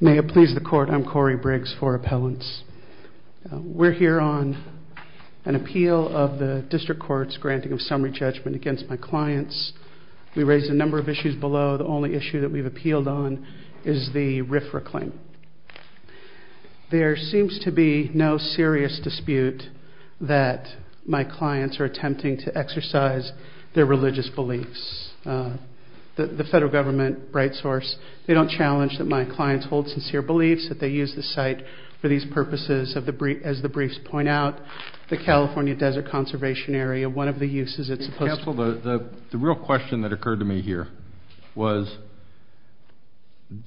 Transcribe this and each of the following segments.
May it please the Court, I'm Corey Briggs for Appellants. We're here on an appeal of the District Court's granting of summary judgment against my clients. We raised a number of issues below. The only issue that we've appealed on is the RFRA claim. There seems to be no serious dispute that my clients are attempting to exercise their religious beliefs. The federal government, Bright Source, they don't challenge that my clients hold sincere beliefs, that they use the site for these purposes, as the briefs point out. The California Desert Conservation Area, one of the uses, it's supposed to... Counsel, the real question that occurred to me here was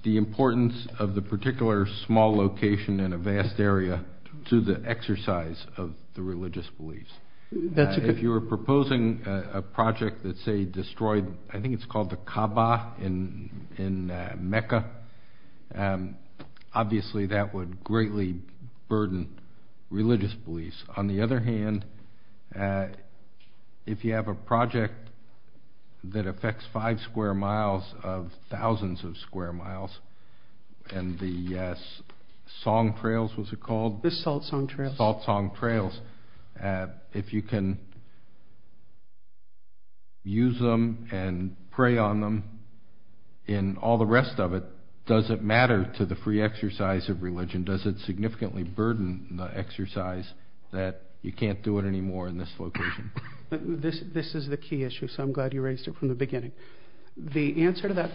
the importance of the particular small location in a vast area to the exercise of the religious beliefs. If you were proposing a project that, say, destroyed, I think it's called the Kaaba in Mecca, obviously that would greatly burden religious beliefs. On the other hand, if you have a project that is called Salt Song Trails, if you can use them and prey on them and all the rest of it, does it matter to the free exercise of religion? Does it significantly burden the exercise that you can't do it anymore in this location? This is the key issue, so I'm glad you raised it from the beginning. The answer to that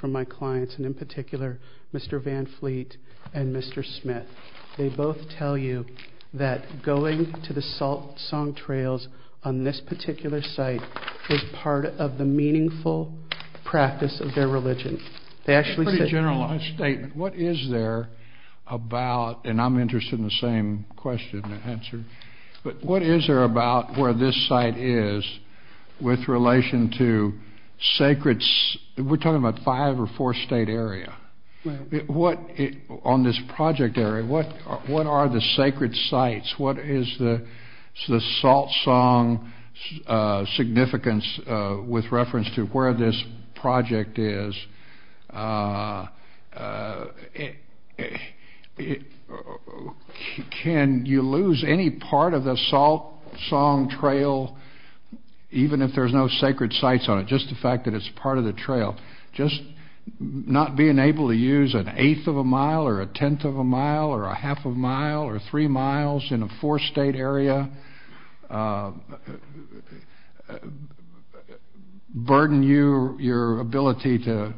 from my clients, and in particular Mr. Van Fleet and Mr. Smith, they both tell you that going to the Salt Song Trails on this particular site is part of the meaningful practice of their religion. A pretty generalized statement. What is there about, and I'm interested in the same question and answer, but what is there about where this site is with relation to sacred, we're talking about five or four state area. On this project area, what are the sacred sites? What is the Salt Song significance with reference to where this project is? Can you lose any part of the Salt Song Trail, even if there's no sacred sites on it, just the fact that it's part of the trail, just not being able to use an eighth of a mile or a tenth of a mile or a half a mile or three miles in a four state area, burden you, your ability to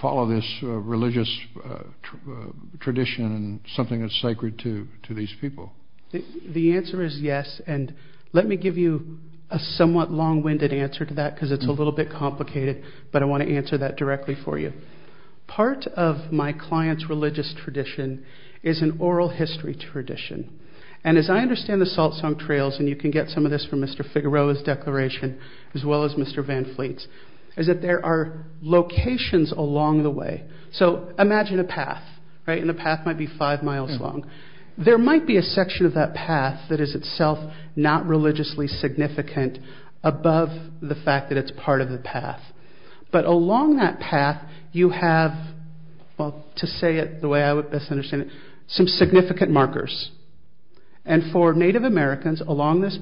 follow this religious tradition and something that's sacred to these people? The answer is yes, and let me give you a somewhat long-winded answer to that because it's a little bit complicated, but I want to answer that directly for you. Part of my client's religious tradition is an oral history tradition. As I understand the Salt Song Trails, and you can get some of this from Mr. Figueroa's declaration, as well as Mr. Van Fleet's, is that there are locations along the way. So imagine a path, and the path might be five miles long. There might be a section of that path that is itself not religiously significant above the fact that it's part of the path, but along that path, you have, to say it the way I would best understand it, some significant markers. And for Native Americans along this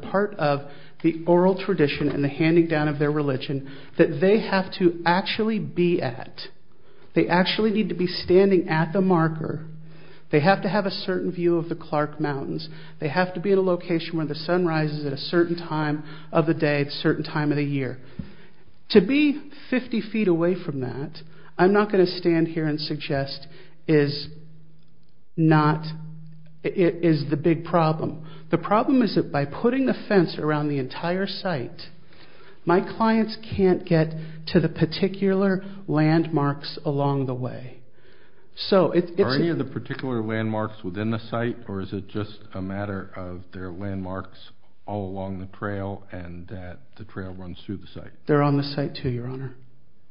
part of the oral tradition and the handing down of their religion that they have to actually be at. They actually need to be standing at the marker. They have to have a certain view of the Clark Mountains. They have to be at a location where the sun rises at a certain time of the day at a certain time of the year. To be 50 feet away from that, I'm not going to stand here and suggest is not, is the big problem. The problem is that by putting the fence around the entire site, my clients can't get to the particular landmarks along the way. So, it's... Are any of the particular landmarks within the site, or is it just a matter of their landmarks all along the trail and that the trail runs through the site? They're on the site too, your honor.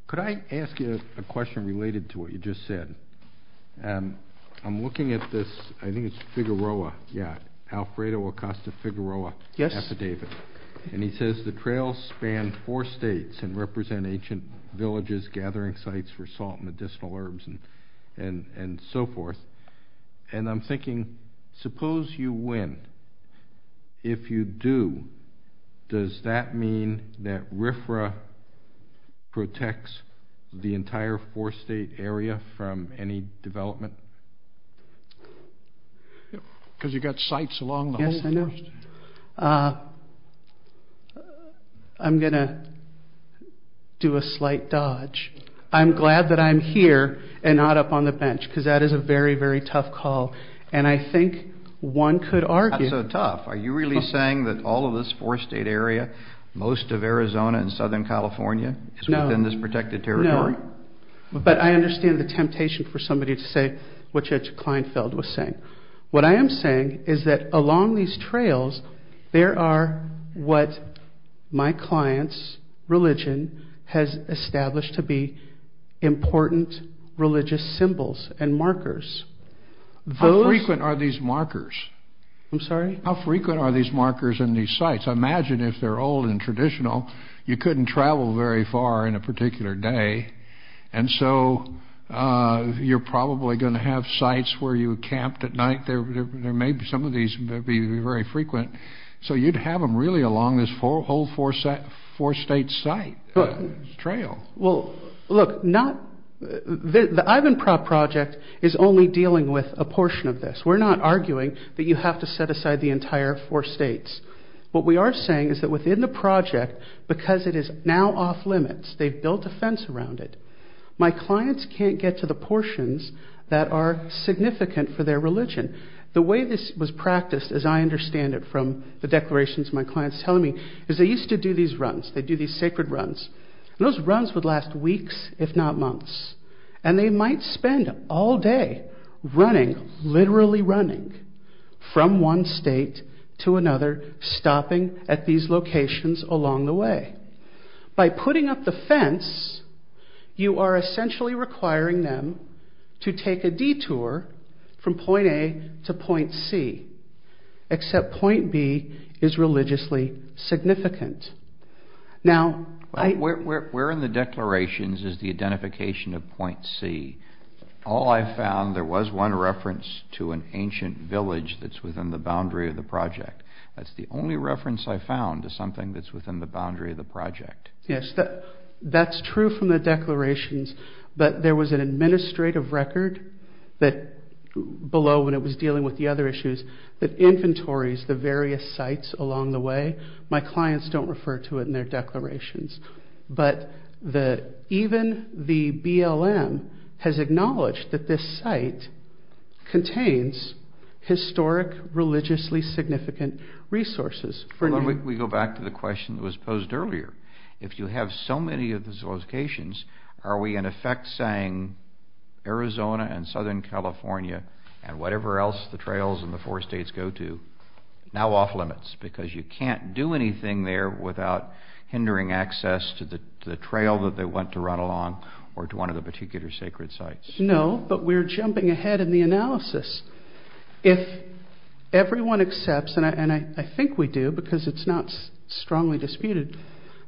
Could I ask you a question related to what you just said? I'm looking at this, I think it's Figueroa. Yeah. Alfredo Acosta Figueroa. Yes. And he says the trails span four states and represent ancient villages, gathering sites for salt and medicinal herbs and so forth. And I'm thinking, suppose you win. If you do, does that mean that RFRA protects the entire four state area from any development? Because you've got sites along the whole forest. Yes, I know. I'm going to do a slight dodge. I'm glad that I'm here and not up on the bench because that is a very, very tough call. And I think one could argue... Not so tough. Are you really saying that all of this four state area, most of Arizona and Southern California is within this protected territory? No, but I understand the temptation for somebody to say what Judge Kleinfeld was saying. What I am saying is that along these trails, there are what my client's religion has established to be important religious symbols and markers. How frequent are these markers? I'm sorry? How frequent are these markers in these sites? Imagine if they're old and traditional, you And so you're probably going to have sites where you camped at night. There may be some of these that would be very frequent. So you'd have them really along this whole four state site trail. Well, look, the Ivanprov Project is only dealing with a portion of this. We're not arguing that you have to set aside the entire four states. What we are saying is that within the project, because it is now off limits, they've built a fence around it. My clients can't get to the portions that are significant for their religion. The way this was practiced, as I understand it from the declarations my client's telling me, is they used to do these runs. They do these sacred runs. Those runs would last weeks if not months. And they might spend all day running, literally running, from one state to another, stopping at these locations along the way. By putting up the fence, you are essentially requiring them to take a detour from point A to point C, except point B is religiously significant. Now where in the declarations is the identification of point C? All I found, there was one reference to an ancient village that's within the boundary of the project. That's the only reference I found to something that's within the boundary of the project. Yes, that's true from the declarations, but there was an administrative record below when it was dealing with the other issues that inventories the various sites along the way. My clients don't refer to it in their declarations. But even the BLM has acknowledged that this contains historic, religiously significant resources. We go back to the question that was posed earlier. If you have so many of these locations, are we in effect saying Arizona and Southern California and whatever else the trails in the four states go to, now off limits? Because you can't do anything there without hindering access to the trail that they went to run along or to one of the particular sacred sites. No, but we're jumping ahead in the analysis. If everyone accepts, and I think we do because it's not strongly disputed,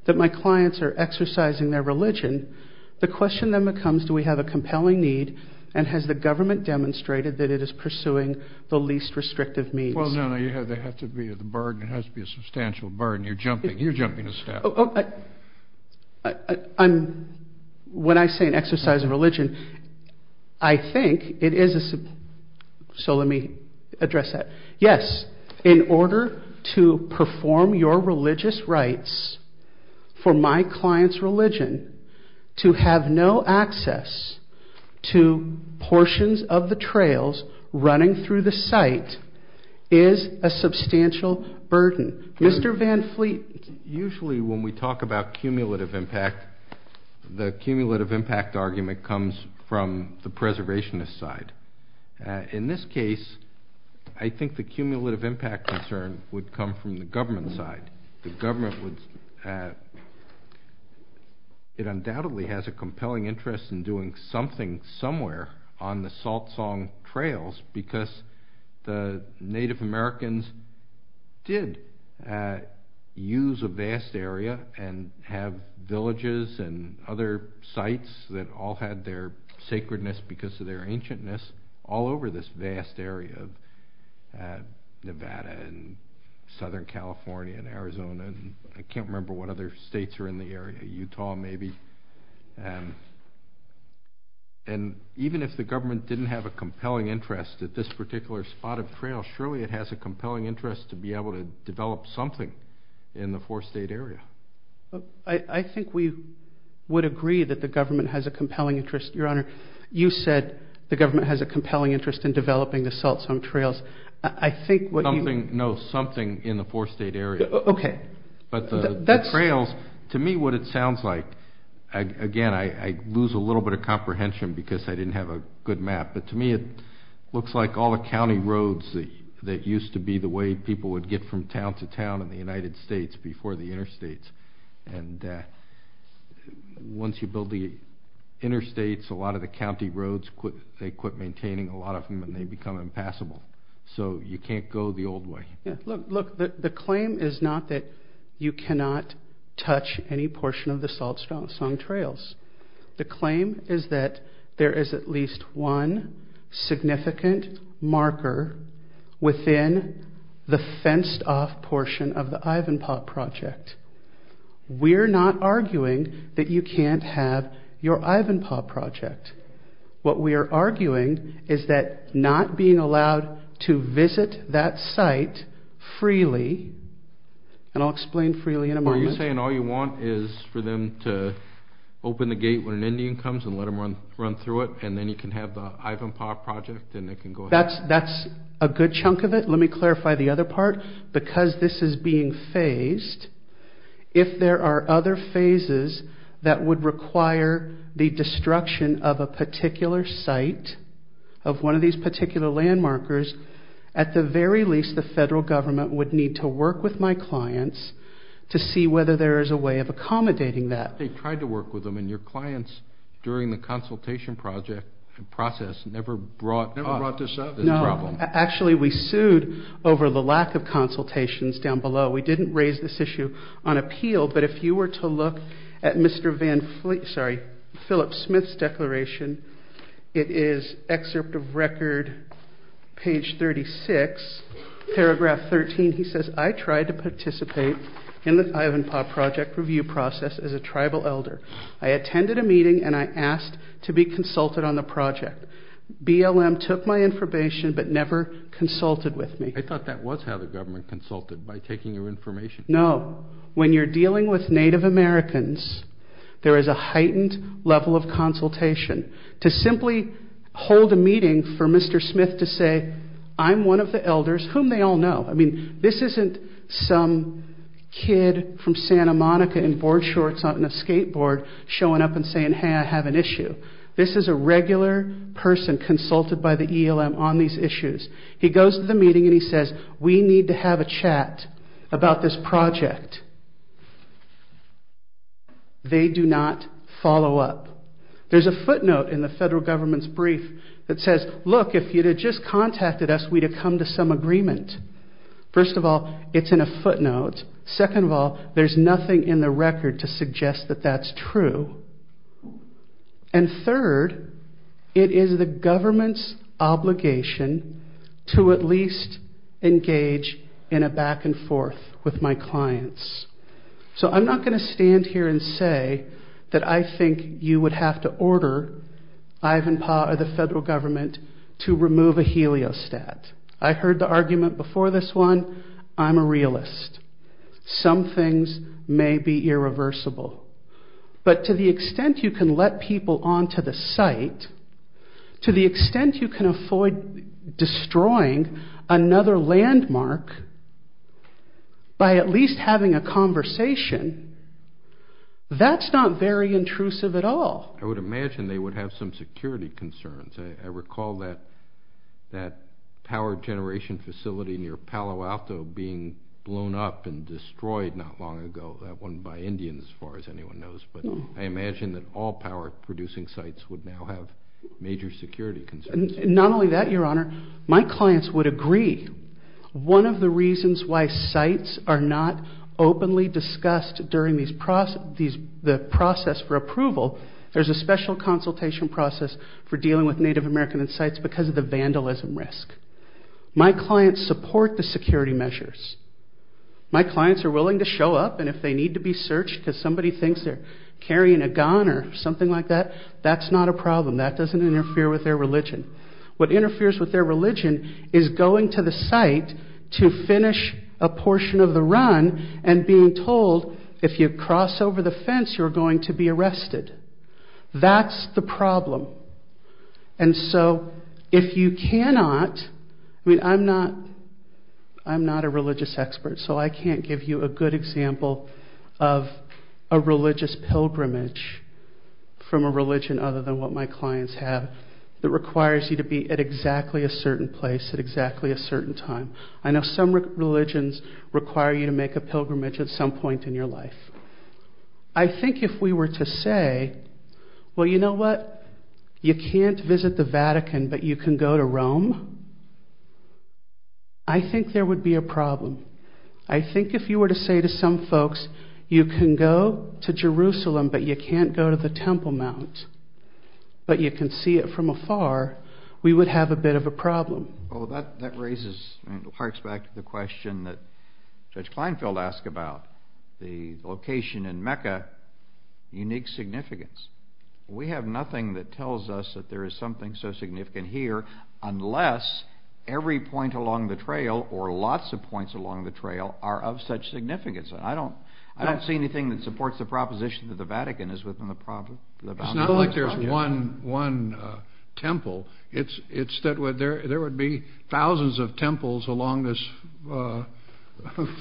that my clients are exercising their religion, the question then becomes, do we have a compelling need and has the government demonstrated that it is pursuing the least restrictive means? Well, no, no. There has to be a bargain. There has to be a substantial bargain. You're jumping the staff. When I say an exercise of religion, I think it is a... So let me address that. Yes, in order to perform your religious rites for my client's religion, to have no access to portions of the trails running through the site is a substantial burden. Mr. Van Fleet. Usually when we talk about cumulative impact, the cumulative impact argument comes from the preservationist side. In this case, I think the cumulative impact concern would come from the government side. The government would... It undoubtedly has a compelling interest in doing something somewhere on the salt song trails because the Native Americans did use a vast area and have villages and other sites that all had their sacredness because of their ancientness all over this vast area of Nevada and Southern California and Arizona. I can't remember what other states are in the area, Utah maybe. Even if the government didn't have a compelling interest at this particular spot of trail, surely it has a compelling interest to be able to develop something in the four state area. I think we would agree that the government has a compelling interest. Your Honor, you said the government has a compelling interest in developing the salt song trails. I think what you... No, something in the four state area. Okay. But the trails, to me what it sounds like... Again, I lose a little bit of comprehension because I didn't have a good map, but to me it looks like all the way people would get from town to town in the United States before the interstates. Once you build the interstates, a lot of the county roads, they quit maintaining a lot of them and they become impassable. So you can't go the old way. Look, the claim is not that you cannot touch any portion of the salt song trails. The claim is that there is at least one significant marker within the fenced off portion of the Ivanpah project. We're not arguing that you can't have your Ivanpah project. What we are arguing is that not being allowed to visit that site freely, and I'll explain freely in a moment. Are you saying all you want is for them to open the gate when an Indian comes and let them run through it and then you can have the Ivanpah project and they can go ahead? That's a good chunk of it. Let me clarify the other part. Because this is being phased, if there are other phases that would require the destruction of a particular site, of one of these particular landmarkers, at the very least the federal government would need to work with my clients to see whether there is a way of accommodating that. They've tried to work with them and your clients during the consultation process never brought up this problem. Actually, we sued over the lack of consultations down below. We didn't raise this issue on appeal, but if you were to look at Philip Smith's declaration, it is excerpt of record page 36, paragraph 13. He says, I tried to participate in the Ivanpah project review process as a tribal elder. I attended a meeting and I asked to be consulted on the project. BLM took my information but never consulted with me. I thought that was how the government consulted, by taking your information. No. When you're dealing with Native Americans, there is a heightened level of consultation. To simply hold a meeting for Mr. Smith to say, I'm one of the elders, whom they all know. I mean, this isn't some kid from Santa Monica in board shorts and a skateboard showing up and saying, hey, I have an issue. This is a regular person consulted by the ELM on these issues. He goes to the meeting and he says, we need to have a chat about this project. They do not follow up. There's a footnote in the federal government's brief that says, look, if you'd have just contacted us, we'd have come to some agreement. First of all, it's in a footnote. Second of all, there's nothing in the record to suggest that that's true. And third, it is the government's obligation to at least engage in a back and forth with my clients. So I'm not going to stand here and say that I think you would have to order Ivanpah or the federal government to remove a heliostat. I heard the argument before this one. I'm a realist. Some things may be irreversible, but to the extent you can let people onto the site, to the extent you can avoid destroying another landmark by at least having a conversation, that's not very intrusive at all. I would imagine they would have some security concerns. I recall that power generation facility near Palo Alto being blown up and destroyed not long ago, that one by Indians, as far as anyone knows. But I imagine that all power producing sites would now have major security concerns. Not only that, Your Honor, my clients would agree. One of the reasons why sites are not openly discussed during the process for approval, there's a special consultation process for the security measures. My clients are willing to show up and if they need to be searched because somebody thinks they're carrying a gun or something like that, that's not a problem. That doesn't interfere with their religion. What interferes with their religion is going to the site to finish a portion of the run and being told if you cross over the fence you're going to be arrested. That's the problem. And so if you cannot, I mean I'm not a religious expert so I can't give you a good example of a religious pilgrimage from a religion other than what my clients have that requires you to be at exactly a certain place at exactly a certain time. I know some religions require you to make a pilgrimage at some point in your life. I think if we were to say, well you know what, you can't visit the Vatican but you can go to Rome, I think there would be a problem. I think if you were to say to some folks, you can go to Jerusalem but you can't go to the Temple Mount but you can see it from afar, we would have a bit of a problem. That raises and harks back to the question that Judge Kleinfeld asked about the location in Mecca, unique significance. We have nothing that tells us that there is something so significant here unless every point along the trail or lots of points along the trail are of such significance. I don't see anything that supports the proposition that the Vatican is within the boundary of the Temple. It's not like there's one temple. There would be thousands of temples along this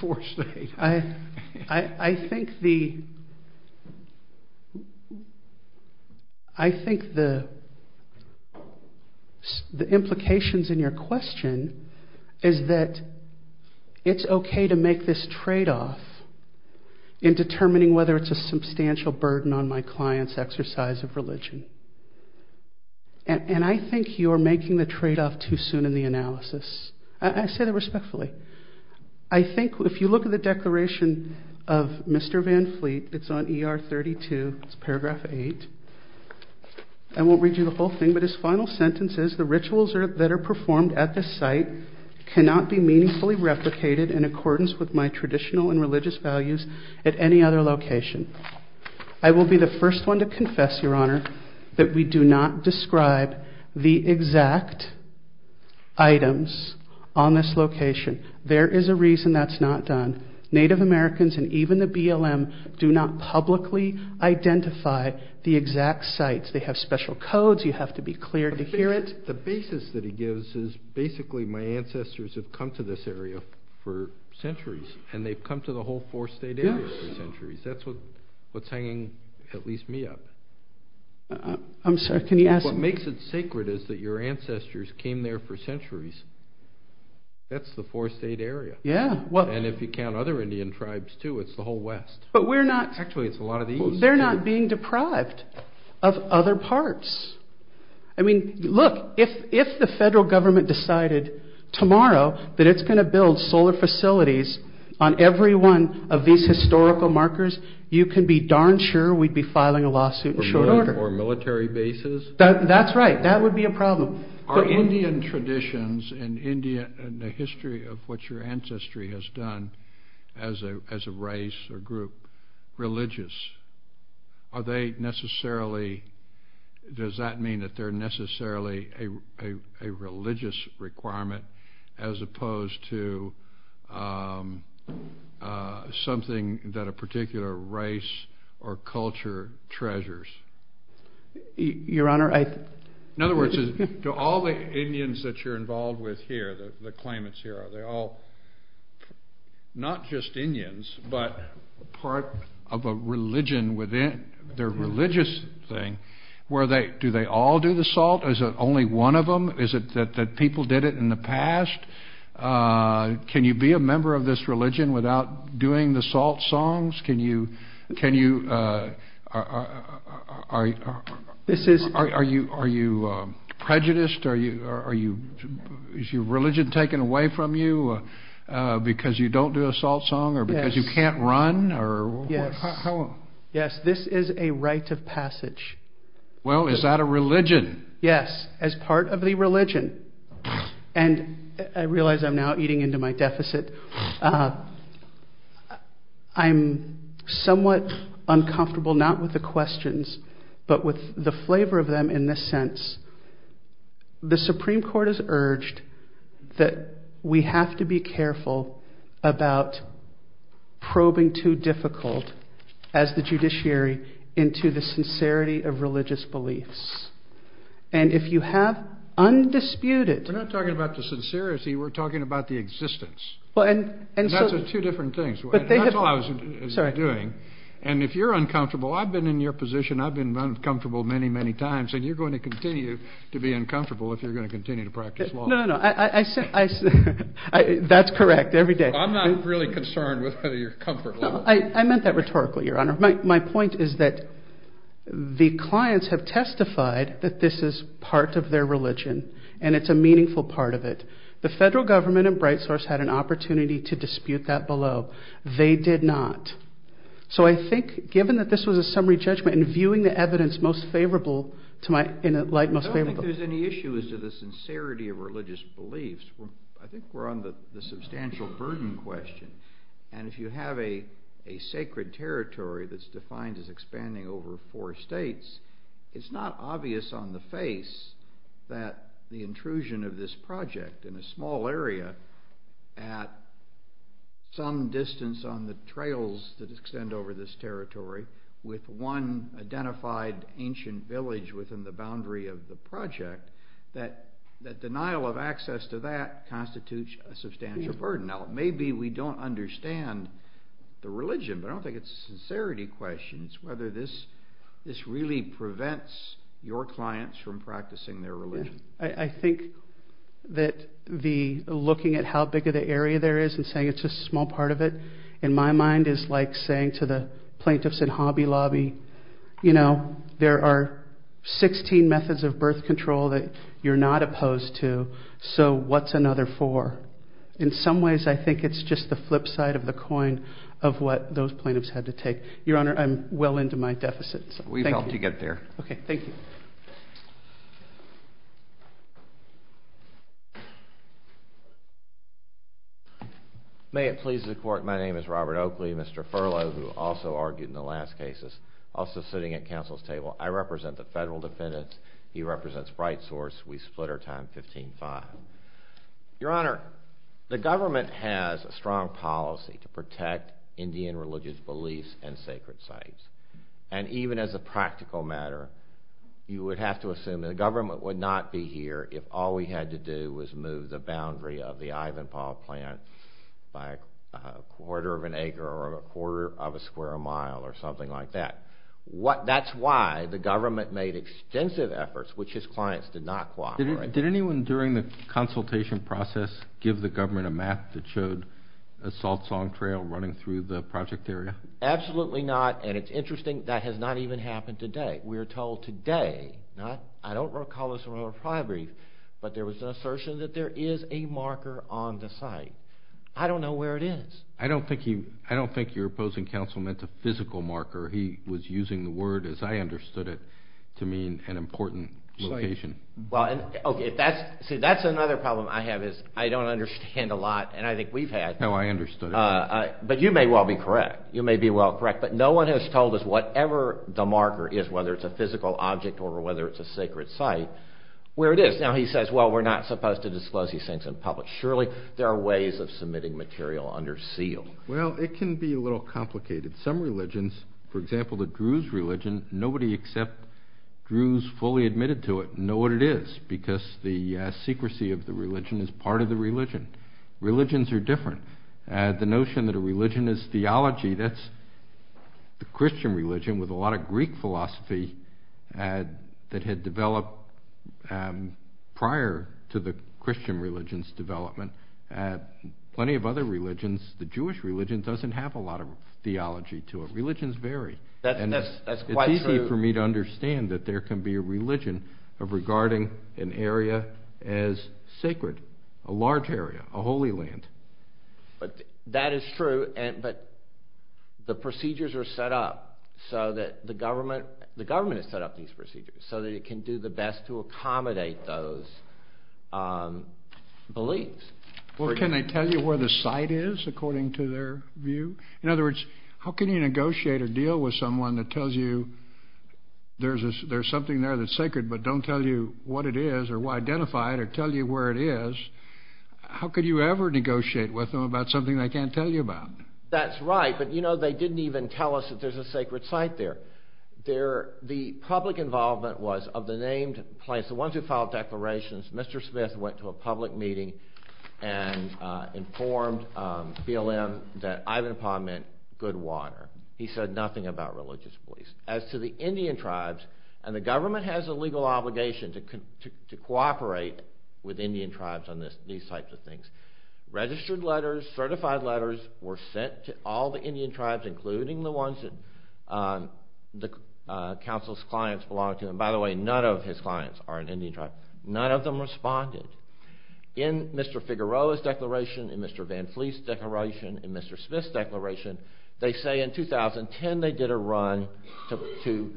four states. I think the implications in your question is that it's okay to make this tradeoff in determining whether it's a substantial burden on my client's exercise of religion. And I think you're making the tradeoff too soon in the analysis. I say that respectfully. I think if you look at the declaration of Mr. Van Fleet, it's on ER 32, it's paragraph 8. I won't read you the whole thing but his final sentence is, the rituals that are performed at this site cannot be meaningfully replicated in accordance with my traditional and religious values at any other location. I will be the first one to confess, Your Honor, that we have not done. There is a reason that's not done. Native Americans and even the BLM do not publicly identify the exact sites. They have special codes. You have to be clear to hear it. The basis that he gives is basically my ancestors have come to this area for centuries and they've come to the whole four state area for centuries. That's what's hanging at least me up. What makes it sacred is that your ancestors came there for centuries. That's the four state area. And if you count other Indian tribes too, it's the whole west. Actually it's a lot of the east. They're not being deprived of other parts. I mean, look, if the federal government decided tomorrow that it's going to build solar facilities on every one of these historical markers, you can be darn sure we'd be filing a lawsuit in short order. Or military bases. That's right. That would be a problem. Are Indian traditions and the history of what your ancestry has done as a race or group religious? Are they necessarily, does that mean that they're necessarily a religious requirement as opposed to something that a particular race or culture treasures? Your Honor, I... In other words, do all the Indians that you're involved with here, the claimants here, are they all not just Indians but part of a religion within their religious thing? Do they all do the salt? Is it only one of them? Is it that people did it in the past? Can you be a member of this religion without doing the salt songs? Are you prejudiced? Is your religion taken away from you because you don't do a salt song or because you can't run? Yes. This is a rite of passage. Well, is that a religion? Yes. As part of the religion. And I realize I'm now eating into my deficit. I'm somewhat uncomfortable not with the questions but with the flavor of them in this sense. The Supreme Court has urged that we have to be careful about probing too difficult as the judiciary into the sincerity of religious beliefs. And if you have undisputed... We're not talking about the sincerity. We're talking about the existence. And that's two different things. That's all I was doing. And if you're uncomfortable, I've been in your position. I've been uncomfortable many, many times. And you're going to continue to be uncomfortable if you're going to continue to practice law. No, no, no. That's correct. Every day. I'm not really concerned with your comfort level. I meant that rhetorically, Your Honor. My point is that the clients have testified that this is part of their religion and it's a meaningful part of it. The federal government and Bright Source had an opportunity to dispute that below. They did not. So I think given that this was a summary judgment and viewing the evidence in a light most favorable... I don't think there's any issue as to the sincerity of religious beliefs. I think we're on the substantial burden question. And if you have a sacred territory that's defined as expanding over four states, it's not obvious on the face that the intrusion of this project in a small area at some distance on the trails that extend over this territory with one identified ancient village within the boundary of the project, that denial of access to that constitutes a substantial burden. Now maybe we don't understand the religion, but I don't think it's a sincerity question. It's whether this really prevents your clients from practicing their religion. I think that looking at how big of the area there is and saying it's just a small part of it, in my mind is like saying to the plaintiffs in Hobby Lobby, you know, there are 16 methods of birth control that you're not opposed to, so what's another four? In some ways I think it's just the flip side of the coin of what those plaintiffs had to take. Your Honor, I'm well into my deficit. We've helped you get there. Okay, thank you. May it please the Court, my name is Robert Oakley, Mr. Furlow, who also argued in the last cases, also sitting at counsel's table. I represent the federal defendants. He represents Bright Source. We split our time 15-5. Your Honor, the government has a strong policy to protect Indian religious beliefs and sacred sites, and even as a practical matter, you would have to assume that the government would not be here if all we had to do was move the boundary of the Ivanpah plant by a quarter of an acre or a quarter of a square mile or something like that. That is why the government made extensive efforts, which his clients did not cooperate. Did anyone during the consultation process give the government a map that showed a salt song trail running through the project area? Absolutely not, and it's interesting, that has not even happened to date. We are told today, I don't recall this from a prior brief, but there was an assertion that there is a marker on the site. I don't know where it is. I don't think your opposing counsel meant a physical marker. He was using the word, as I understood it, to mean an important location. That's another problem I have, is I don't understand a lot, and I think we've had. No, I understood. But you may well be correct. You may be well correct, but no one has told us whatever the marker is, whether it's a physical object or whether it's a sacred site, where it is. Now he says, well, we're not supposed to disclose these things in public. Surely there are ways of submitting material under seal. Well, it can be a little complicated. Some religions, for example, the Druze religion, nobody except Druze fully admitted to it know what it is, because the secrecy of the religion is part of the religion. Religions are different. The notion that a religion is theology, that's the Christian religion with a lot of Greek philosophy that had developed prior to the Christian religion's development. Plenty of other religions, the Jewish religion, doesn't have a lot of theology to it. Religions vary. It's easy for me to understand that there can be a religion of regarding an area as sacred, a large area, a holy land. That is true, but the procedures are set up so that the government has set up these procedures so that it can do the best to accommodate those beliefs. Well, can they tell you where the site is according to their view? In other words, how can you negotiate or deal with someone that tells you there's something there that's sacred, but don't tell you what it is or identify it or tell you where it is? How could you ever negotiate with them about something they can't tell you about? That's right, but you know, they didn't even tell us that there's a sacred site there. The public involvement was of the named place, the ones who filed declarations. Mr. Smith went to a public meeting and informed BLM that Ivan Pond meant good water. He said nothing about religious beliefs. As to the Indian tribes, and the government has a legal obligation to cooperate with Indian tribes on these types of things, registered letters, certified letters were sent to all the Indian tribes, including the ones that the council's clients belong to. And by the way, none of his clients are an Indian tribe. None of them responded. In Mr. Figueroa's declaration, in Mr. Van Fleece's declaration, in Mr. Smith's declaration, they say in 2010 they did a run to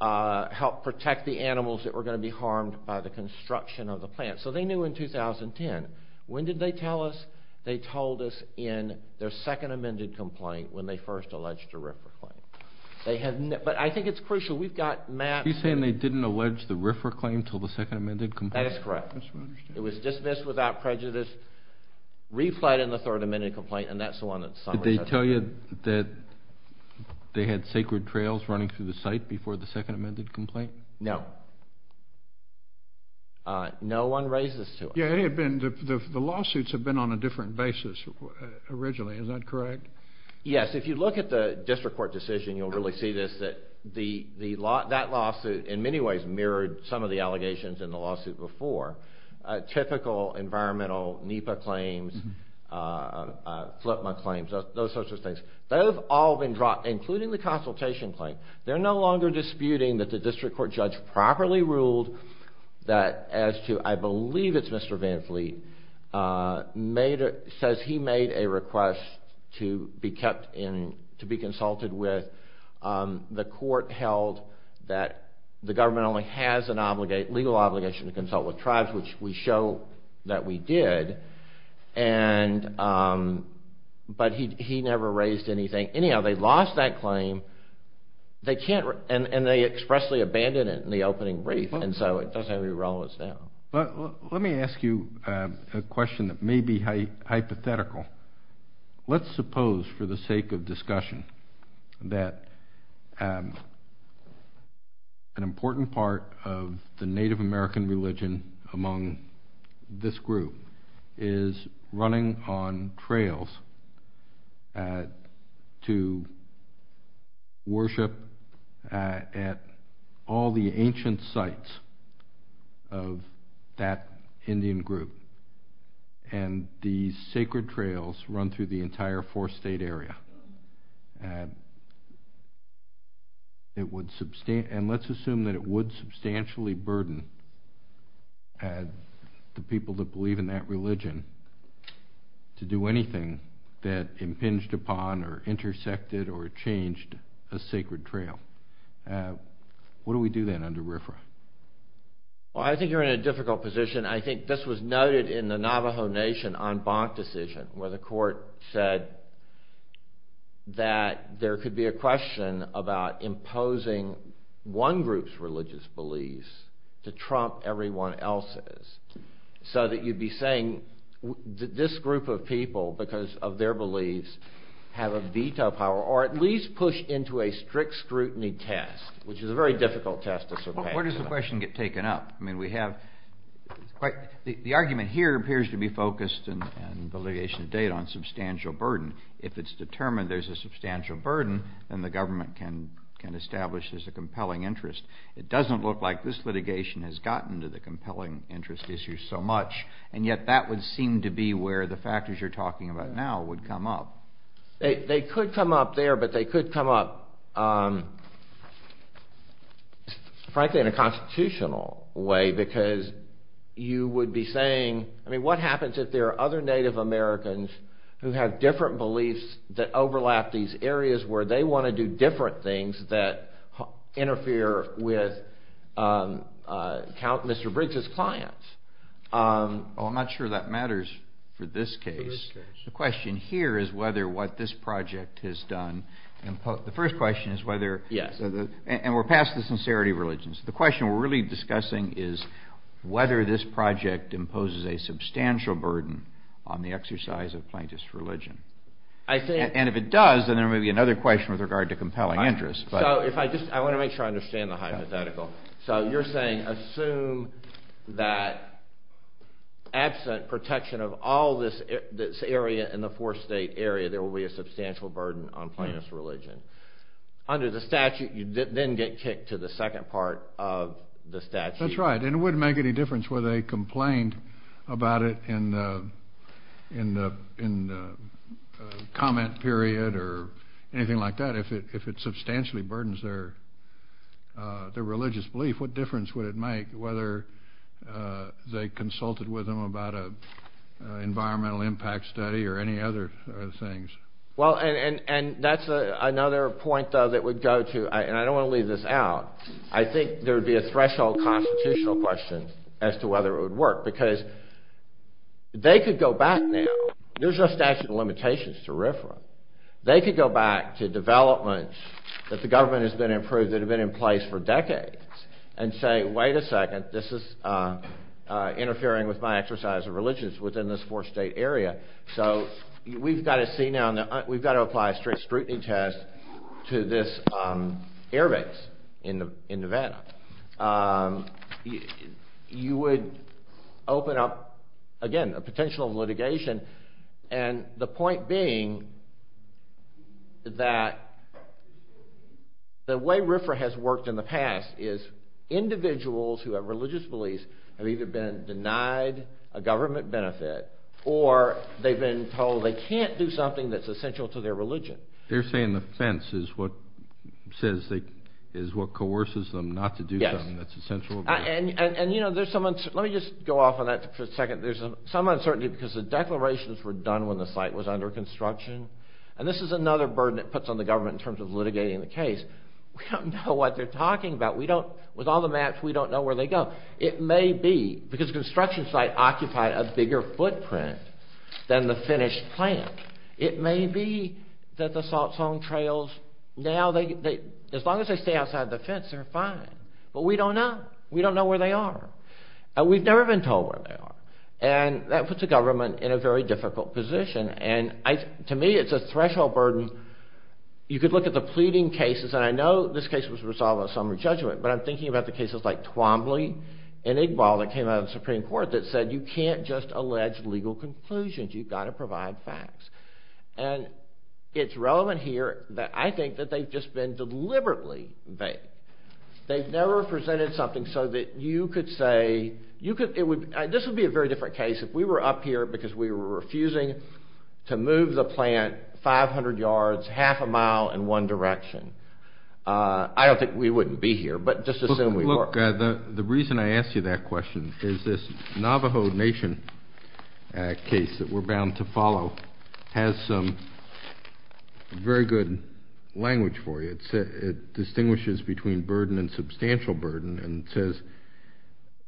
help protect the animals that were going to be harmed by the construction of the plant. So they knew in 2010. When did they tell us? They told us in their second amended complaint when they first alleged a RIFRA claim. But I think it's crucial. We've got maps. Are you saying they didn't allege the RIFRA claim until the second amended complaint? That is correct. It was dismissed without prejudice, replayed in the third amended complaint, and that's the one that's summarized. Did they tell you that they had sacred trails running through the site before the second amended complaint? No. No one raises to us. The lawsuits have been on a different basis originally, is that correct? Yes, if you look at the district court decision, you'll really see this, that that lawsuit in many ways mirrored some of the allegations in the lawsuit before. Typical environmental NEPA claims, FLIPMA claims, those sorts of things, they've all been dropped, including the consultation claim. They're no longer disputing that the district court judge properly ruled that as to, I believe it's Mr. Van Fleet, says he made a request to be consulted with. The court held that the government only has a legal obligation to consult with tribes, which we show that we did, but he never raised anything. Anyhow, they lost that claim, and they expressly abandoned it in the opening brief, and so it doesn't have any relevance now. Let me ask you a question that may be hypothetical. Let's suppose for the sake of discussion that an important part of the Native American religion among this group is running on trails to worship at all the ancient sites of that Indian group, and these sacred trails run through the entire four-state area. Let's assume that it would substantially burden the people that believe in that religion to do anything that impinged upon, or intersected, or changed a sacred site. How would you do that under RFRA? I think you're in a difficult position. I think this was noted in the Navajo Nation en banc decision, where the court said that there could be a question about imposing one group's religious beliefs to trump everyone else's, so that you'd be saying that this group of people, because of their beliefs, have a veto power, or at least push into a strict scrutiny test, which is a very difficult test to survive. Where does the question get taken up? I mean, we have quite... The argument here appears to be focused, in the litigation to date, on substantial burden. If it's determined there's a substantial burden, then the government can establish there's a compelling interest. It doesn't look like this litigation has gotten to the compelling interest issue so much, and yet that would seem to be where the factors you're talking about now would come up. They could come up there, but they could come up, frankly, in a constitutional way, because you would be saying... I mean, what happens if there are other Native Americans who have different beliefs that overlap these areas, where they want to do different things that interfere with Mr. Briggs' clients? I'm not sure that matters for this case. The question here is whether what this project has done... The first question is whether... And we're past the sincerity of religion. The question we're really discussing is whether this project imposes a substantial burden on the exercise of plaintiff's religion. And if it does, then there may be another question with regard to compelling interest. I want to make sure I understand the hypothetical. So you're saying, assume that absent protection of all this area in the four-state area, there will be a substantial burden on plaintiff's religion. Under the statute, you then get kicked to the second part of the statute. That's right, and it wouldn't make any difference whether they complained about it in the comment period or anything like that. If it substantially burdens their religious belief, what difference would it make whether they consulted with them about an environmental impact study or any other things? Well, and that's another point, though, that would go to... And I don't want to leave this out. I think there would be a threshold constitutional question as to whether it would work, because they could go back now. There's no statute of limitations to RFRA. They could go back to developments that the government has been improving that have been in place for decades and say, wait a second, this is interfering with my exercise of religion within this four-state area. So we've got to see now, we've got to apply a strict scrutiny test to this airbase in Nevada. You would open up, again, a potential litigation, and the point being that the way RFRA has worked in the past is individuals who have religious beliefs have either been denied a government benefit or they've been told they can't do something that's essential to their religion. They're saying the fence is what says they... Is what coerces them not to do something that's essential to their religion. And you know, there's some... Let me just go off on that for a second. There's some uncertainty because the declarations were done when the site was under construction, and this is another burden it puts on the government in terms of litigating the case. We don't know what they're talking about. We don't... With all the maps, we don't know where they go. It may be, because the construction site occupied a bigger footprint than the finished plant. It may be that the salt zone trails, now they... As long as they stay outside the fence, they're fine. But we don't know. We don't know where they are. And we've never been told where they are. And that puts the government in a very difficult position. And to me, it's a threshold burden. You could look at the pleading cases, and I know this case was resolved on summary judgment, but I'm thinking about the cases like Twombly and Iqbal that came out of the Supreme Court that said you can't just allege legal conclusions. You've got to provide facts. And it's relevant here that I think that they've just been deliberately vague. They've never presented something so that you could say... This would be a very different case if we were up here because we were refusing to move the plant 500 yards, half a mile in one direction. I don't think we wouldn't be here, but just assume we were. The reason I asked you that question is this Navajo Nation case that we're bound to follow has some very good language for you. It distinguishes between burden and substantial burden and says,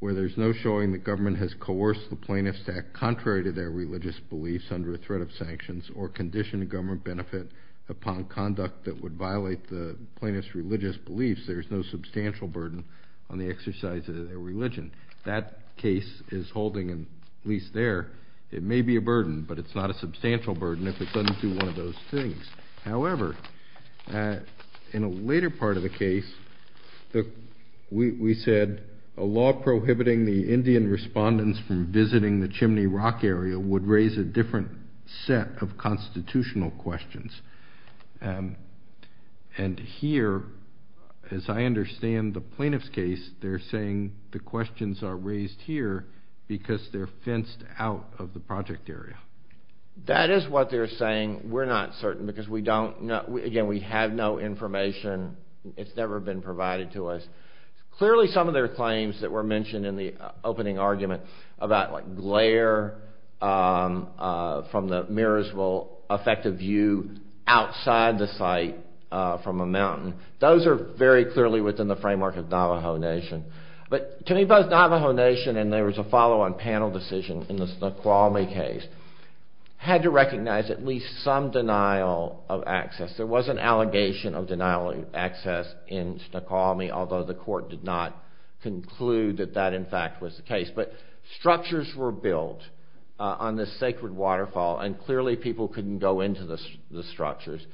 where there's no showing the government has coerced the plaintiffs to act contrary to their religious beliefs under a threat of sanctions or condition government benefit upon conduct that would violate the plaintiff's religious beliefs, there's no substantial burden on the exercise of their religion. That case is holding, at least there, it may be a burden, but it's not a substantial burden if it doesn't do one of those things. However, in a later part of the case, we said a law prohibiting the Indian respondents from visiting the Chimney Rock area would raise a different set of constitutional questions. And here, as I understand the plaintiff's case, they're saying the questions are raised here because they're fenced out of the project area. That is what they're saying. We're not certain because we don't know. Again, we have no information. It's never been provided to us. Clearly, some of their claims that were mentioned in the opening argument about glare from the mirrors will affect a view outside the site from a mountain. Those are very clearly within the framework of Navajo Nation. But Chimney Buzz Navajo Nation, and there was a follow-on panel decision in the Snoqualmie case, had to recognize at least some denial of access. There was an allegation of denial of access in Snoqualmie, although the court did not conclude that that, in fact, was the the structures.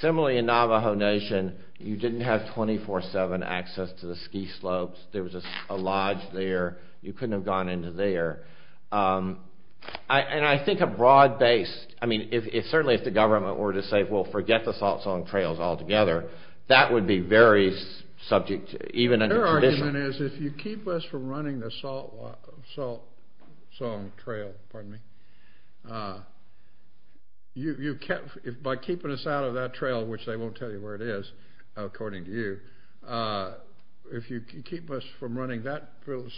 Similarly, in Navajo Nation, you didn't have 24-7 access to the ski slopes. There was a lodge there. You couldn't have gone into there. And I think a broad-based, I mean, certainly if the government were to say, well, forget the salt-sawing trails altogether, that would be very subject, even under tradition. Their argument is, if you keep us from running the salt-sawing trail, pardon me, by keeping us out of that trail, which they won't tell you where it is, according to you, if you keep us from running that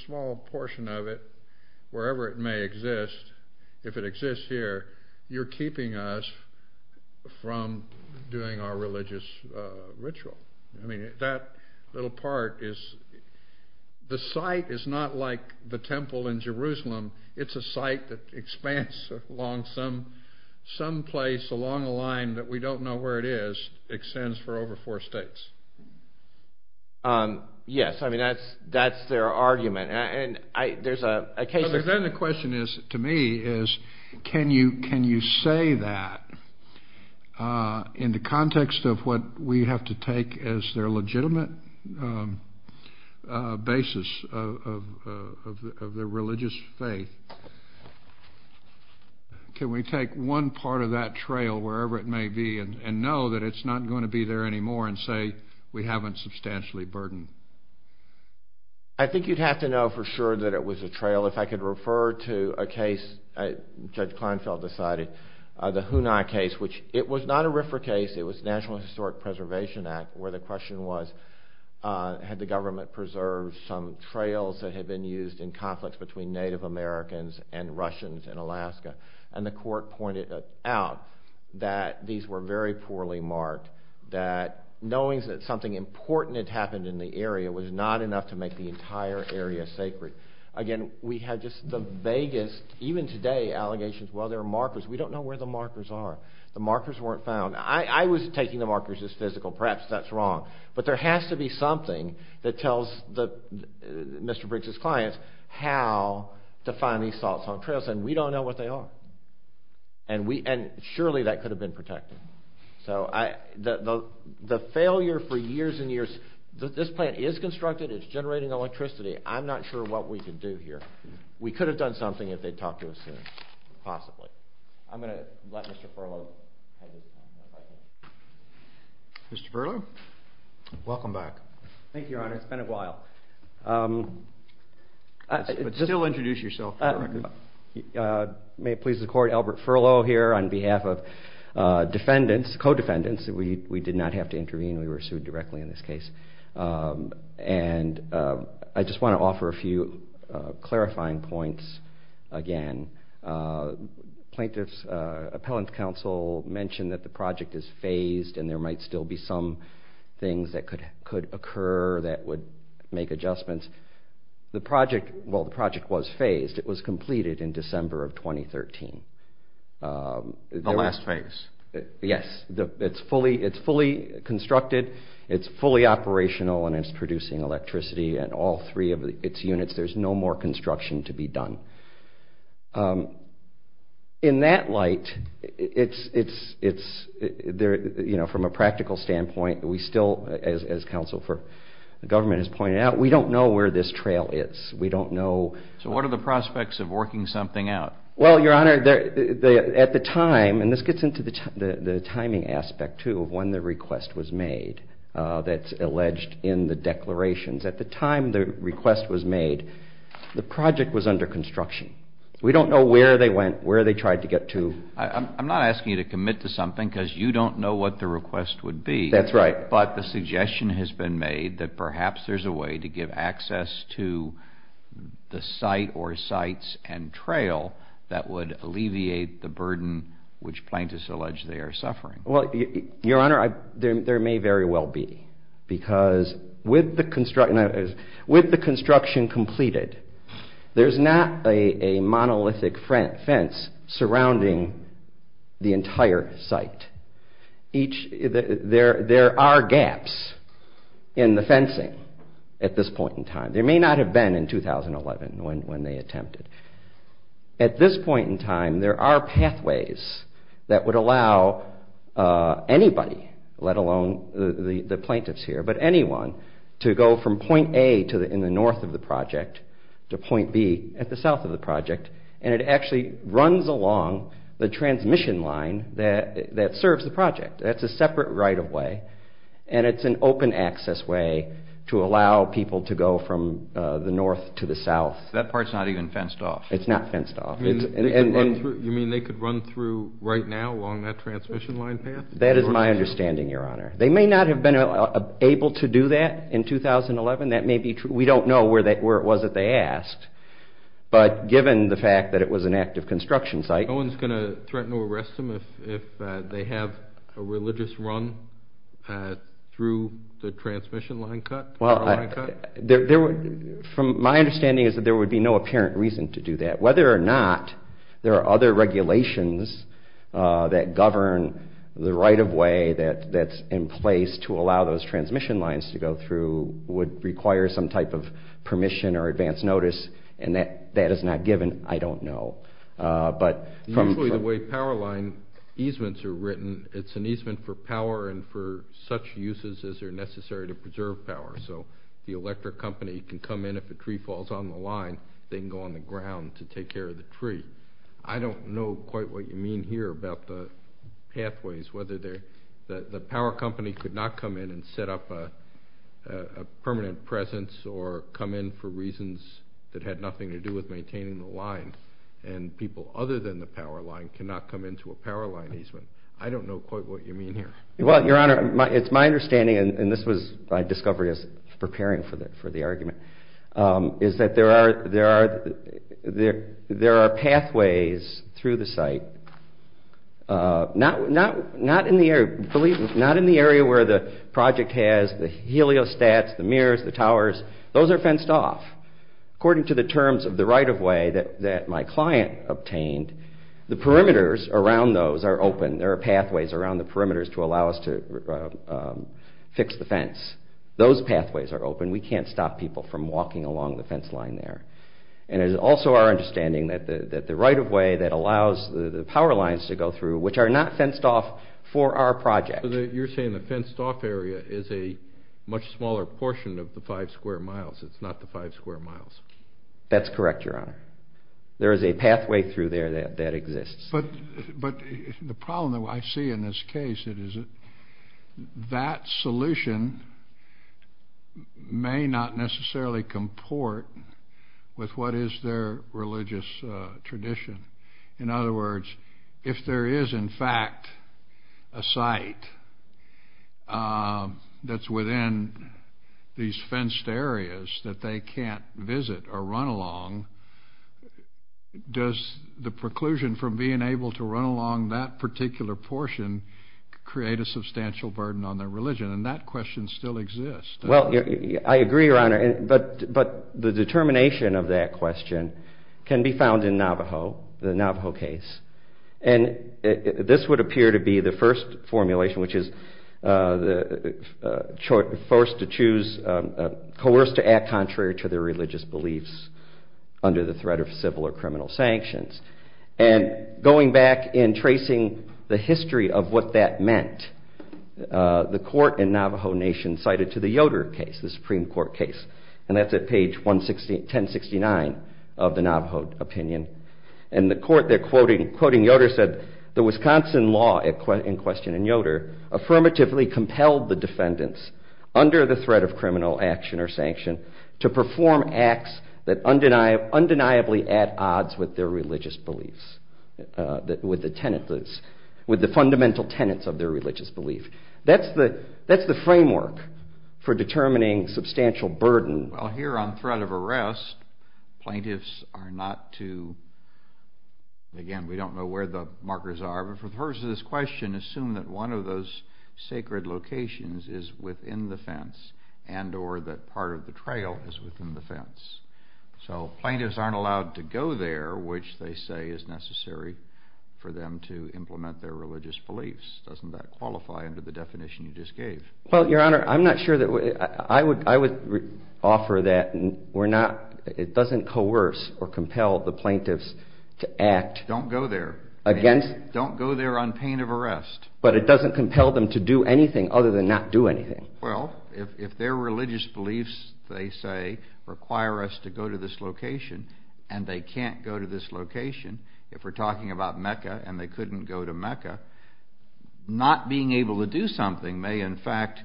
small portion of it, wherever it may exist, if it exists here, you're keeping us from doing our religious ritual. I mean, that little part is, the site is not like the temple in Jerusalem. It's a site that expands along some place along a line that we don't know where it is, extends for over four states. Yes, I mean, that's their argument, and there's a case... And then the question is, to me, is can you say that in the context of what we have to take as their legitimate basis of their religious faith? Can we take one part of that trail, wherever it may be, and know that it's not going to be there anymore, and say we haven't substantially burdened? I think you'd have to know for sure that it was a trail. If I could refer to a case Judge Kleinfeld decided, the Hunai case, which it was not a RFRA case, it was National Historic Preservation Act, where the question was, had the government preserved some trails that had been used in conflicts between Native Americans and Russians in Alaska? And the court pointed out that these were very poorly marked, that knowing that something important had happened in the area was not enough to make the entire area sacred. Again, we had just the vaguest, even today, allegations, well, there are markers. We don't know where the markers are. The markers weren't found. I was taking the markers as physical. Perhaps that's wrong. But there has to be something that tells Mr. Briggs' clients how to find these saltstone trails, and we don't know what they are. And surely that could have been protected. So the failure for years and years, this plant is constructed, it's generating electricity, I'm not sure what we could do here. We could have done something if they'd talked to us soon, possibly. I'm going to let Mr. Furlow have his time. Mr. Furlow, welcome back. Thank you, Your Honor. It's been a while. But still introduce yourself, for the record. May it please the Court, Albert Furlow here on behalf of defendants, co-defendants. We did not have to intervene, we were sued directly in this case. And I just want to offer a few clarifying points again. Plaintiffs' appellant counsel mentioned that the project is phased and there might still be some things that could occur that would make adjustments. The project was phased, it was completed in December of 2013. The last phase. Yes. It's fully constructed, it's fully operational, and it's producing electricity in all three of its units. There's no more construction to be done. In that light, from a practical standpoint, we still, as counsel for the government has pointed out, we don't know where this trail is. We don't know. So what are the prospects of working something out? Well, Your Honor, at the time, and this gets into the timing aspect too of when the request was made, that's alleged in the declarations. At the time the request was made, the project was under construction. We don't know where they went, where they tried to get to. I'm not asking you to commit to something because you don't know what the request would be. That's right. But the suggestion has been made that perhaps there's a way to give access to the site or sites and trail that would alleviate the burden which plaintiffs allege they are suffering. Well, Your Honor, there may very well be because with the construction completed, there's not a monolithic fence surrounding the entire site. There are gaps in the fencing at this point in time. There may not have been in 2011 when they attempted. At this point in time, there are pathways that would allow anybody, let alone the plaintiffs here, but anyone to go from point A in the north of the project to point B at the south of the project, and it actually runs along the transmission line that serves the project. That's a separate right-of-way, and it's an open-access way to allow people to go from the north to the south. That part's not even fenced off. It's not fenced off. You mean they could run through right now along that transmission line path? That is my understanding, Your Honor. They may not have been able to do that in 2011. That may be true. We don't know where it was that they asked, but given the fact that it was an active construction site. No one's going to threaten to arrest them if they have a religious run through the transmission line cut? Well, my understanding is that there would be no apparent reason to do that. Whether or not there are other regulations that govern the right-of-way that's in place to allow those transmission lines to go through would require some type of permission or advance notice, and that is not given, I don't know. Usually the way power line easements are written, it's an easement for power and for such uses as are necessary to preserve power. So the electric company can come in if a tree falls on the line. They can go on the ground to take care of the tree. I don't know quite what you mean here about the pathways, whether the power company could not come in and set up a permanent presence or come in for reasons that had nothing to do with maintaining the line, and people other than the power line cannot come into a power line easement. I don't know quite what you mean here. Well, Your Honor, it's my understanding, and this was my discovery as preparing for the argument, is that there are pathways through the site, not in the area where the project has the heliostats, the mirrors, the towers. Those are fenced off. According to the terms of the right-of-way that my client obtained, the perimeters around those are open. There are pathways around the perimeters to allow us to fix the fence. Those pathways are open. We can't stop people from walking along the fence line there. And it is also our understanding that the right-of-way that allows the power lines to go through, which are not fenced off for our project. So you're saying the fenced-off area is a much smaller portion of the five square miles. It's not the five square miles. That's correct, Your Honor. There is a pathway through there that exists. But the problem that I see in this case is that that solution may not necessarily comport with what is their religious tradition. In other words, if there is, in fact, a site that's within these fenced areas that they can't visit or run along, does the preclusion from being able to run along that particular portion create a substantial burden on their religion? And that question still exists. Well, I agree, Your Honor. But the determination of that question can be found in Navajo, the Navajo case. And this would appear to be the first formulation, which is coerced to act contrary to their religious beliefs under the threat of civil or criminal sanctions. And going back and tracing the history of what that meant, the court in Navajo Nation cited to the Yoder case, the Supreme Court case. And that's at page 1069 of the Navajo opinion. And the court there quoting Yoder said, the Wisconsin law in question in Yoder affirmatively compelled the defendants under the threat of criminal action or sanction to perform acts that undeniably add odds with their religious beliefs, with the fundamental tenets of their religious belief. That's the framework for determining substantial burden. Well, here on threat of arrest, plaintiffs are not to, again, we don't know where the markers are. But for the purpose of this question, assume that one of those sacred locations is within the fence and or that part of the trail is within the fence. So plaintiffs aren't allowed to go there, which they say is necessary for them to implement their religious beliefs. Doesn't that qualify under the definition you just gave? Well, Your Honor, I'm not sure that, I would offer that we're not, it doesn't coerce or compel the plaintiffs to act. Don't go there. Against. Don't go there on pain of arrest. But it doesn't compel them to do anything other than not do anything. Well, if their religious beliefs they say require us to go to this location and they can't go to this location, if we're talking about Mecca and they couldn't go to Mecca, not being able to do something may, in fact,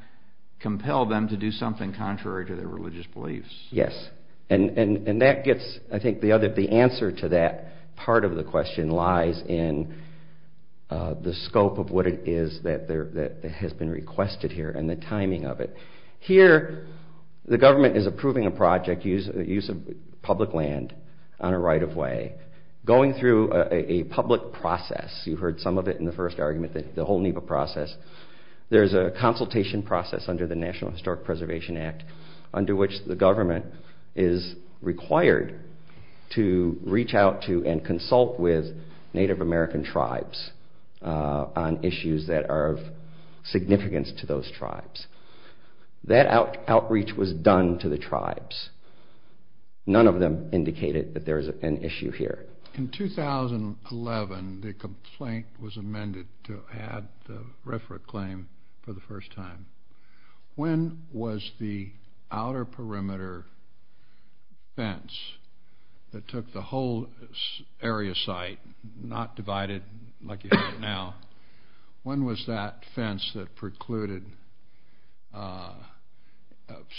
compel them to do something contrary to their religious beliefs. Yes. And that gets, I think, the answer to that part of the question lies in the scope of what it is that has been requested here and the timing of it. Here, the government is approving a project, use of public land on a right-of-way, going through a public process. You heard some of it in the first argument that the whole NEPA process. There's a consultation process under the National Historic Preservation Act under which the government is required to reach out to and consult with Native American tribes on issues that are of significance to those tribes. That outreach was done to the tribes. None of them indicated that there's an issue here. In 2011, the complaint was amended to add the RFRA claim for the first time. When was the outer perimeter fence that took the whole area site, not divided like you have now, when was that fence that precluded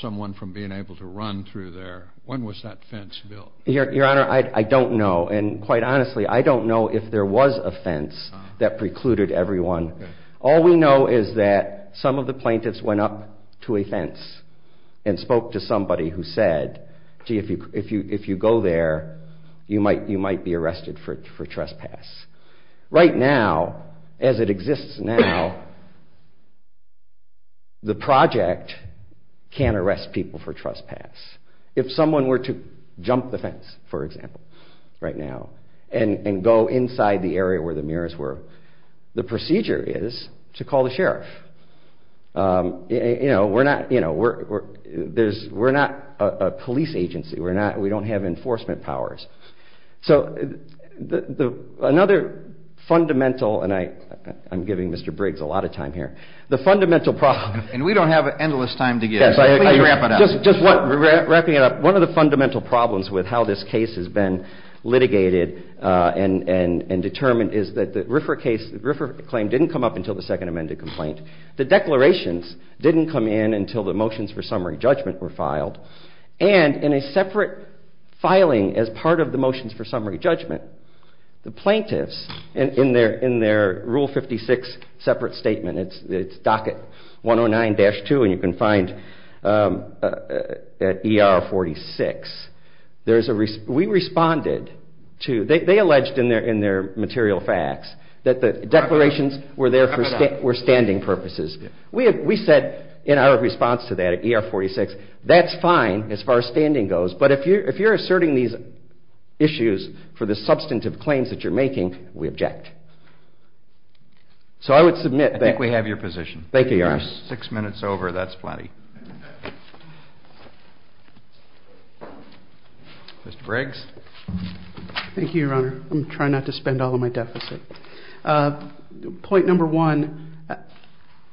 someone from being able to run through there, when was that fence built? Your Honor, I don't know, and quite honestly, I don't know if there was a fence that precluded everyone. All we know is that some of the plaintiffs went up to a fence and spoke to somebody who said, gee, if you go there, you might be arrested for trespass. Right now, as it exists now, the project can't arrest people for trespass. If someone were to jump the fence, for example, right now, and go inside the area where the mirrors were, the procedure is to call the sheriff. We're not a police agency. We don't have enforcement powers. So another fundamental, and I'm giving Mr. Briggs a lot of time here, and we don't have endless time to give, so please wrap it up. Just wrapping it up, one of the fundamental problems with how this case has been litigated and determined is that the RFRA claim didn't come up until the second amended complaint. The declarations didn't come in until the motions for summary judgment were filed, and in a separate filing as part of the motions for summary judgment, the plaintiffs, in their Rule 56 separate statement, it's docket 109-2, and you can find at ER 46, we responded to, they alleged in their material facts, that the declarations were there for standing purposes. We said in our response to that at ER 46, that's fine as far as standing goes, but if you're asserting these issues for the substantive claims that you're making, we object. So I would submit that. I think we have your position. Thank you, Your Honor. Six minutes over, that's plenty. Mr. Briggs. Thank you, Your Honor. I'm trying not to spend all of my deficit. Point number one,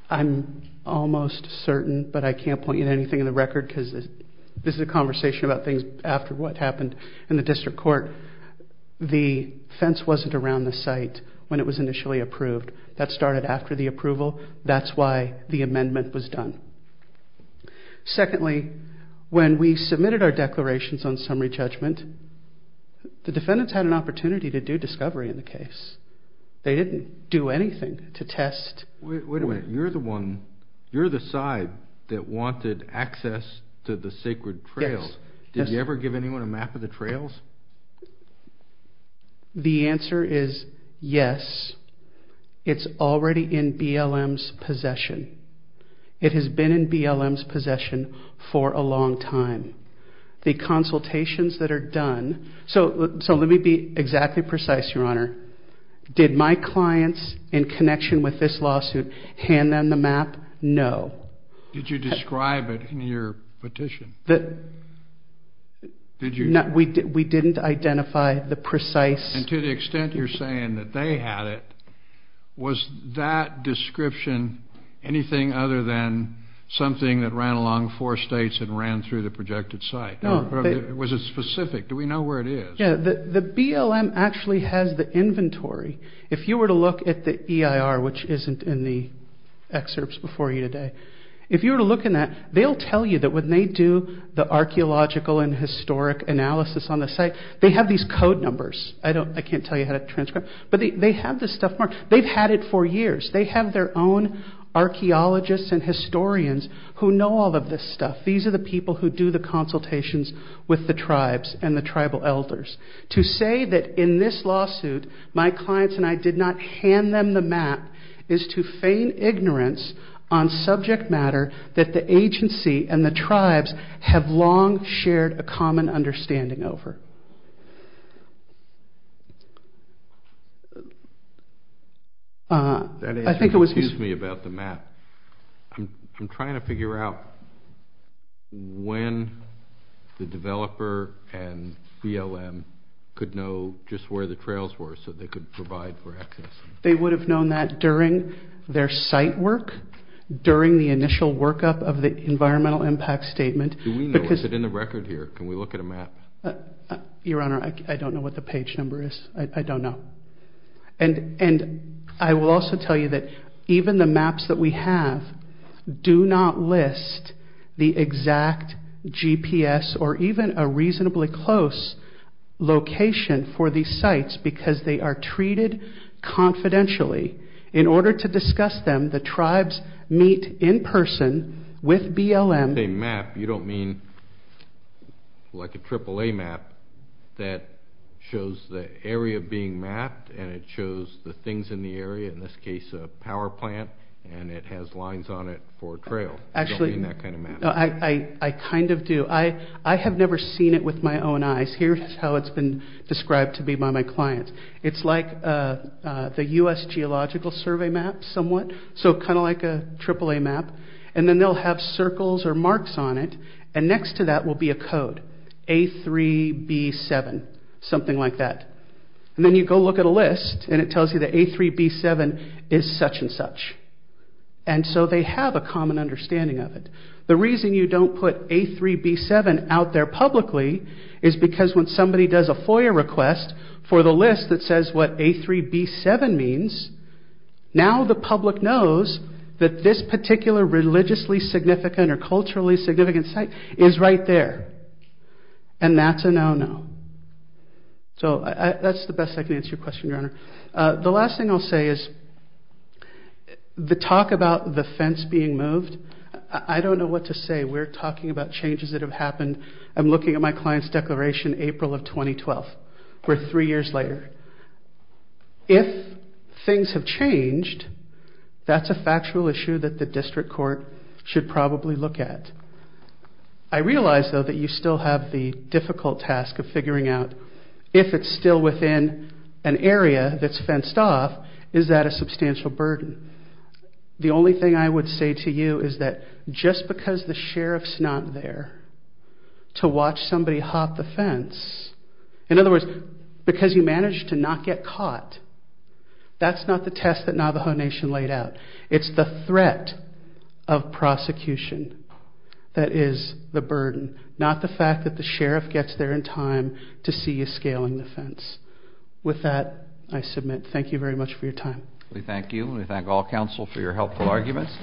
I'm almost certain, but I can't point you to anything in the record because this is a conversation about things after what happened in the district court. The fence wasn't around the site when it was initially approved. That started after the approval. That's why the amendment was done. Secondly, when we submitted our declarations on summary judgment, the defendants had an opportunity to do discovery in the case. They didn't do anything to test. Wait a minute. You're the one, you're the side that wanted access to the sacred trails. Did you ever give anyone a map of the trails? The answer is yes. It's already in BLM's possession. It has been in BLM's possession for a long time. The consultations that are done, so let me be exactly precise, Your Honor. Did my clients, in connection with this lawsuit, hand them the map? No. Did you describe it in your petition? We didn't identify the precise. And to the extent you're saying that they had it, was that description anything other than something that ran along four states and ran through the projected site? Was it specific? Do we know where it is? Yeah, the BLM actually has the inventory. If you were to look at the EIR, which isn't in the excerpts before you today, if you were to look in that, they'll tell you that when they do the archaeological and historic analysis on the site, they have these code numbers. I can't tell you how to transcribe, but they have this stuff marked. They've had it for years. They have their own archaeologists and historians who know all of this stuff. These are the people who do the consultations with the tribes and the tribal elders. To say that in this lawsuit my clients and I did not hand them the map is to feign ignorance on subject matter that the agency and the tribes have long shared a common understanding over. That answer confused me about the map. I'm trying to figure out when the developer and BLM could know just where the trails were so they could provide for access. They would have known that during their site work, during the initial workup of the environmental impact statement. Do we know? Is it in the record here? Can we look at a map? Your Honor, I don't know what the page number is. I don't know. I will also tell you that even the maps that we have do not list the exact GPS or even a reasonably close location for these sites because they are treated confidentially. In order to discuss them, the tribes meet in person with BLM. When I say map, you don't mean like a AAA map that shows the area being mapped and it shows the things in the area, in this case a power plant, and it has lines on it for a trail. You don't mean that kind of map. I kind of do. I have never seen it with my own eyes. Here's how it's been described to me by my clients. It's like the U.S. Geological Survey map somewhat, so kind of like a AAA map. Then they'll have circles or marks on it, and next to that will be a code, A3B7, something like that. Then you go look at a list, and it tells you that A3B7 is such and such. So they have a common understanding of it. The reason you don't put A3B7 out there publicly is because when somebody does a FOIA request for the list that says what A3B7 means, now the public knows that this particular religiously significant or culturally significant site is right there, and that's a no-no. So that's the best I can answer your question, Your Honor. The last thing I'll say is the talk about the fence being moved, I don't know what to say. We're talking about changes that have happened. I'm looking at my client's declaration April of 2012. We're three years later. If things have changed, that's a factual issue that the district court should probably look at. I realize, though, that you still have the difficult task of figuring out if it's still within an area that's fenced off, is that a substantial burden? The only thing I would say to you is that just because the sheriff's not there to watch somebody hop the fence, in other words, because you managed to not get caught, that's not the test that Navajo Nation laid out. It's the threat of prosecution that is the burden, not the fact that the sheriff gets there in time to see you scaling the fence. With that, I submit thank you very much for your time. We thank you, and we thank all counsel for your helpful arguments.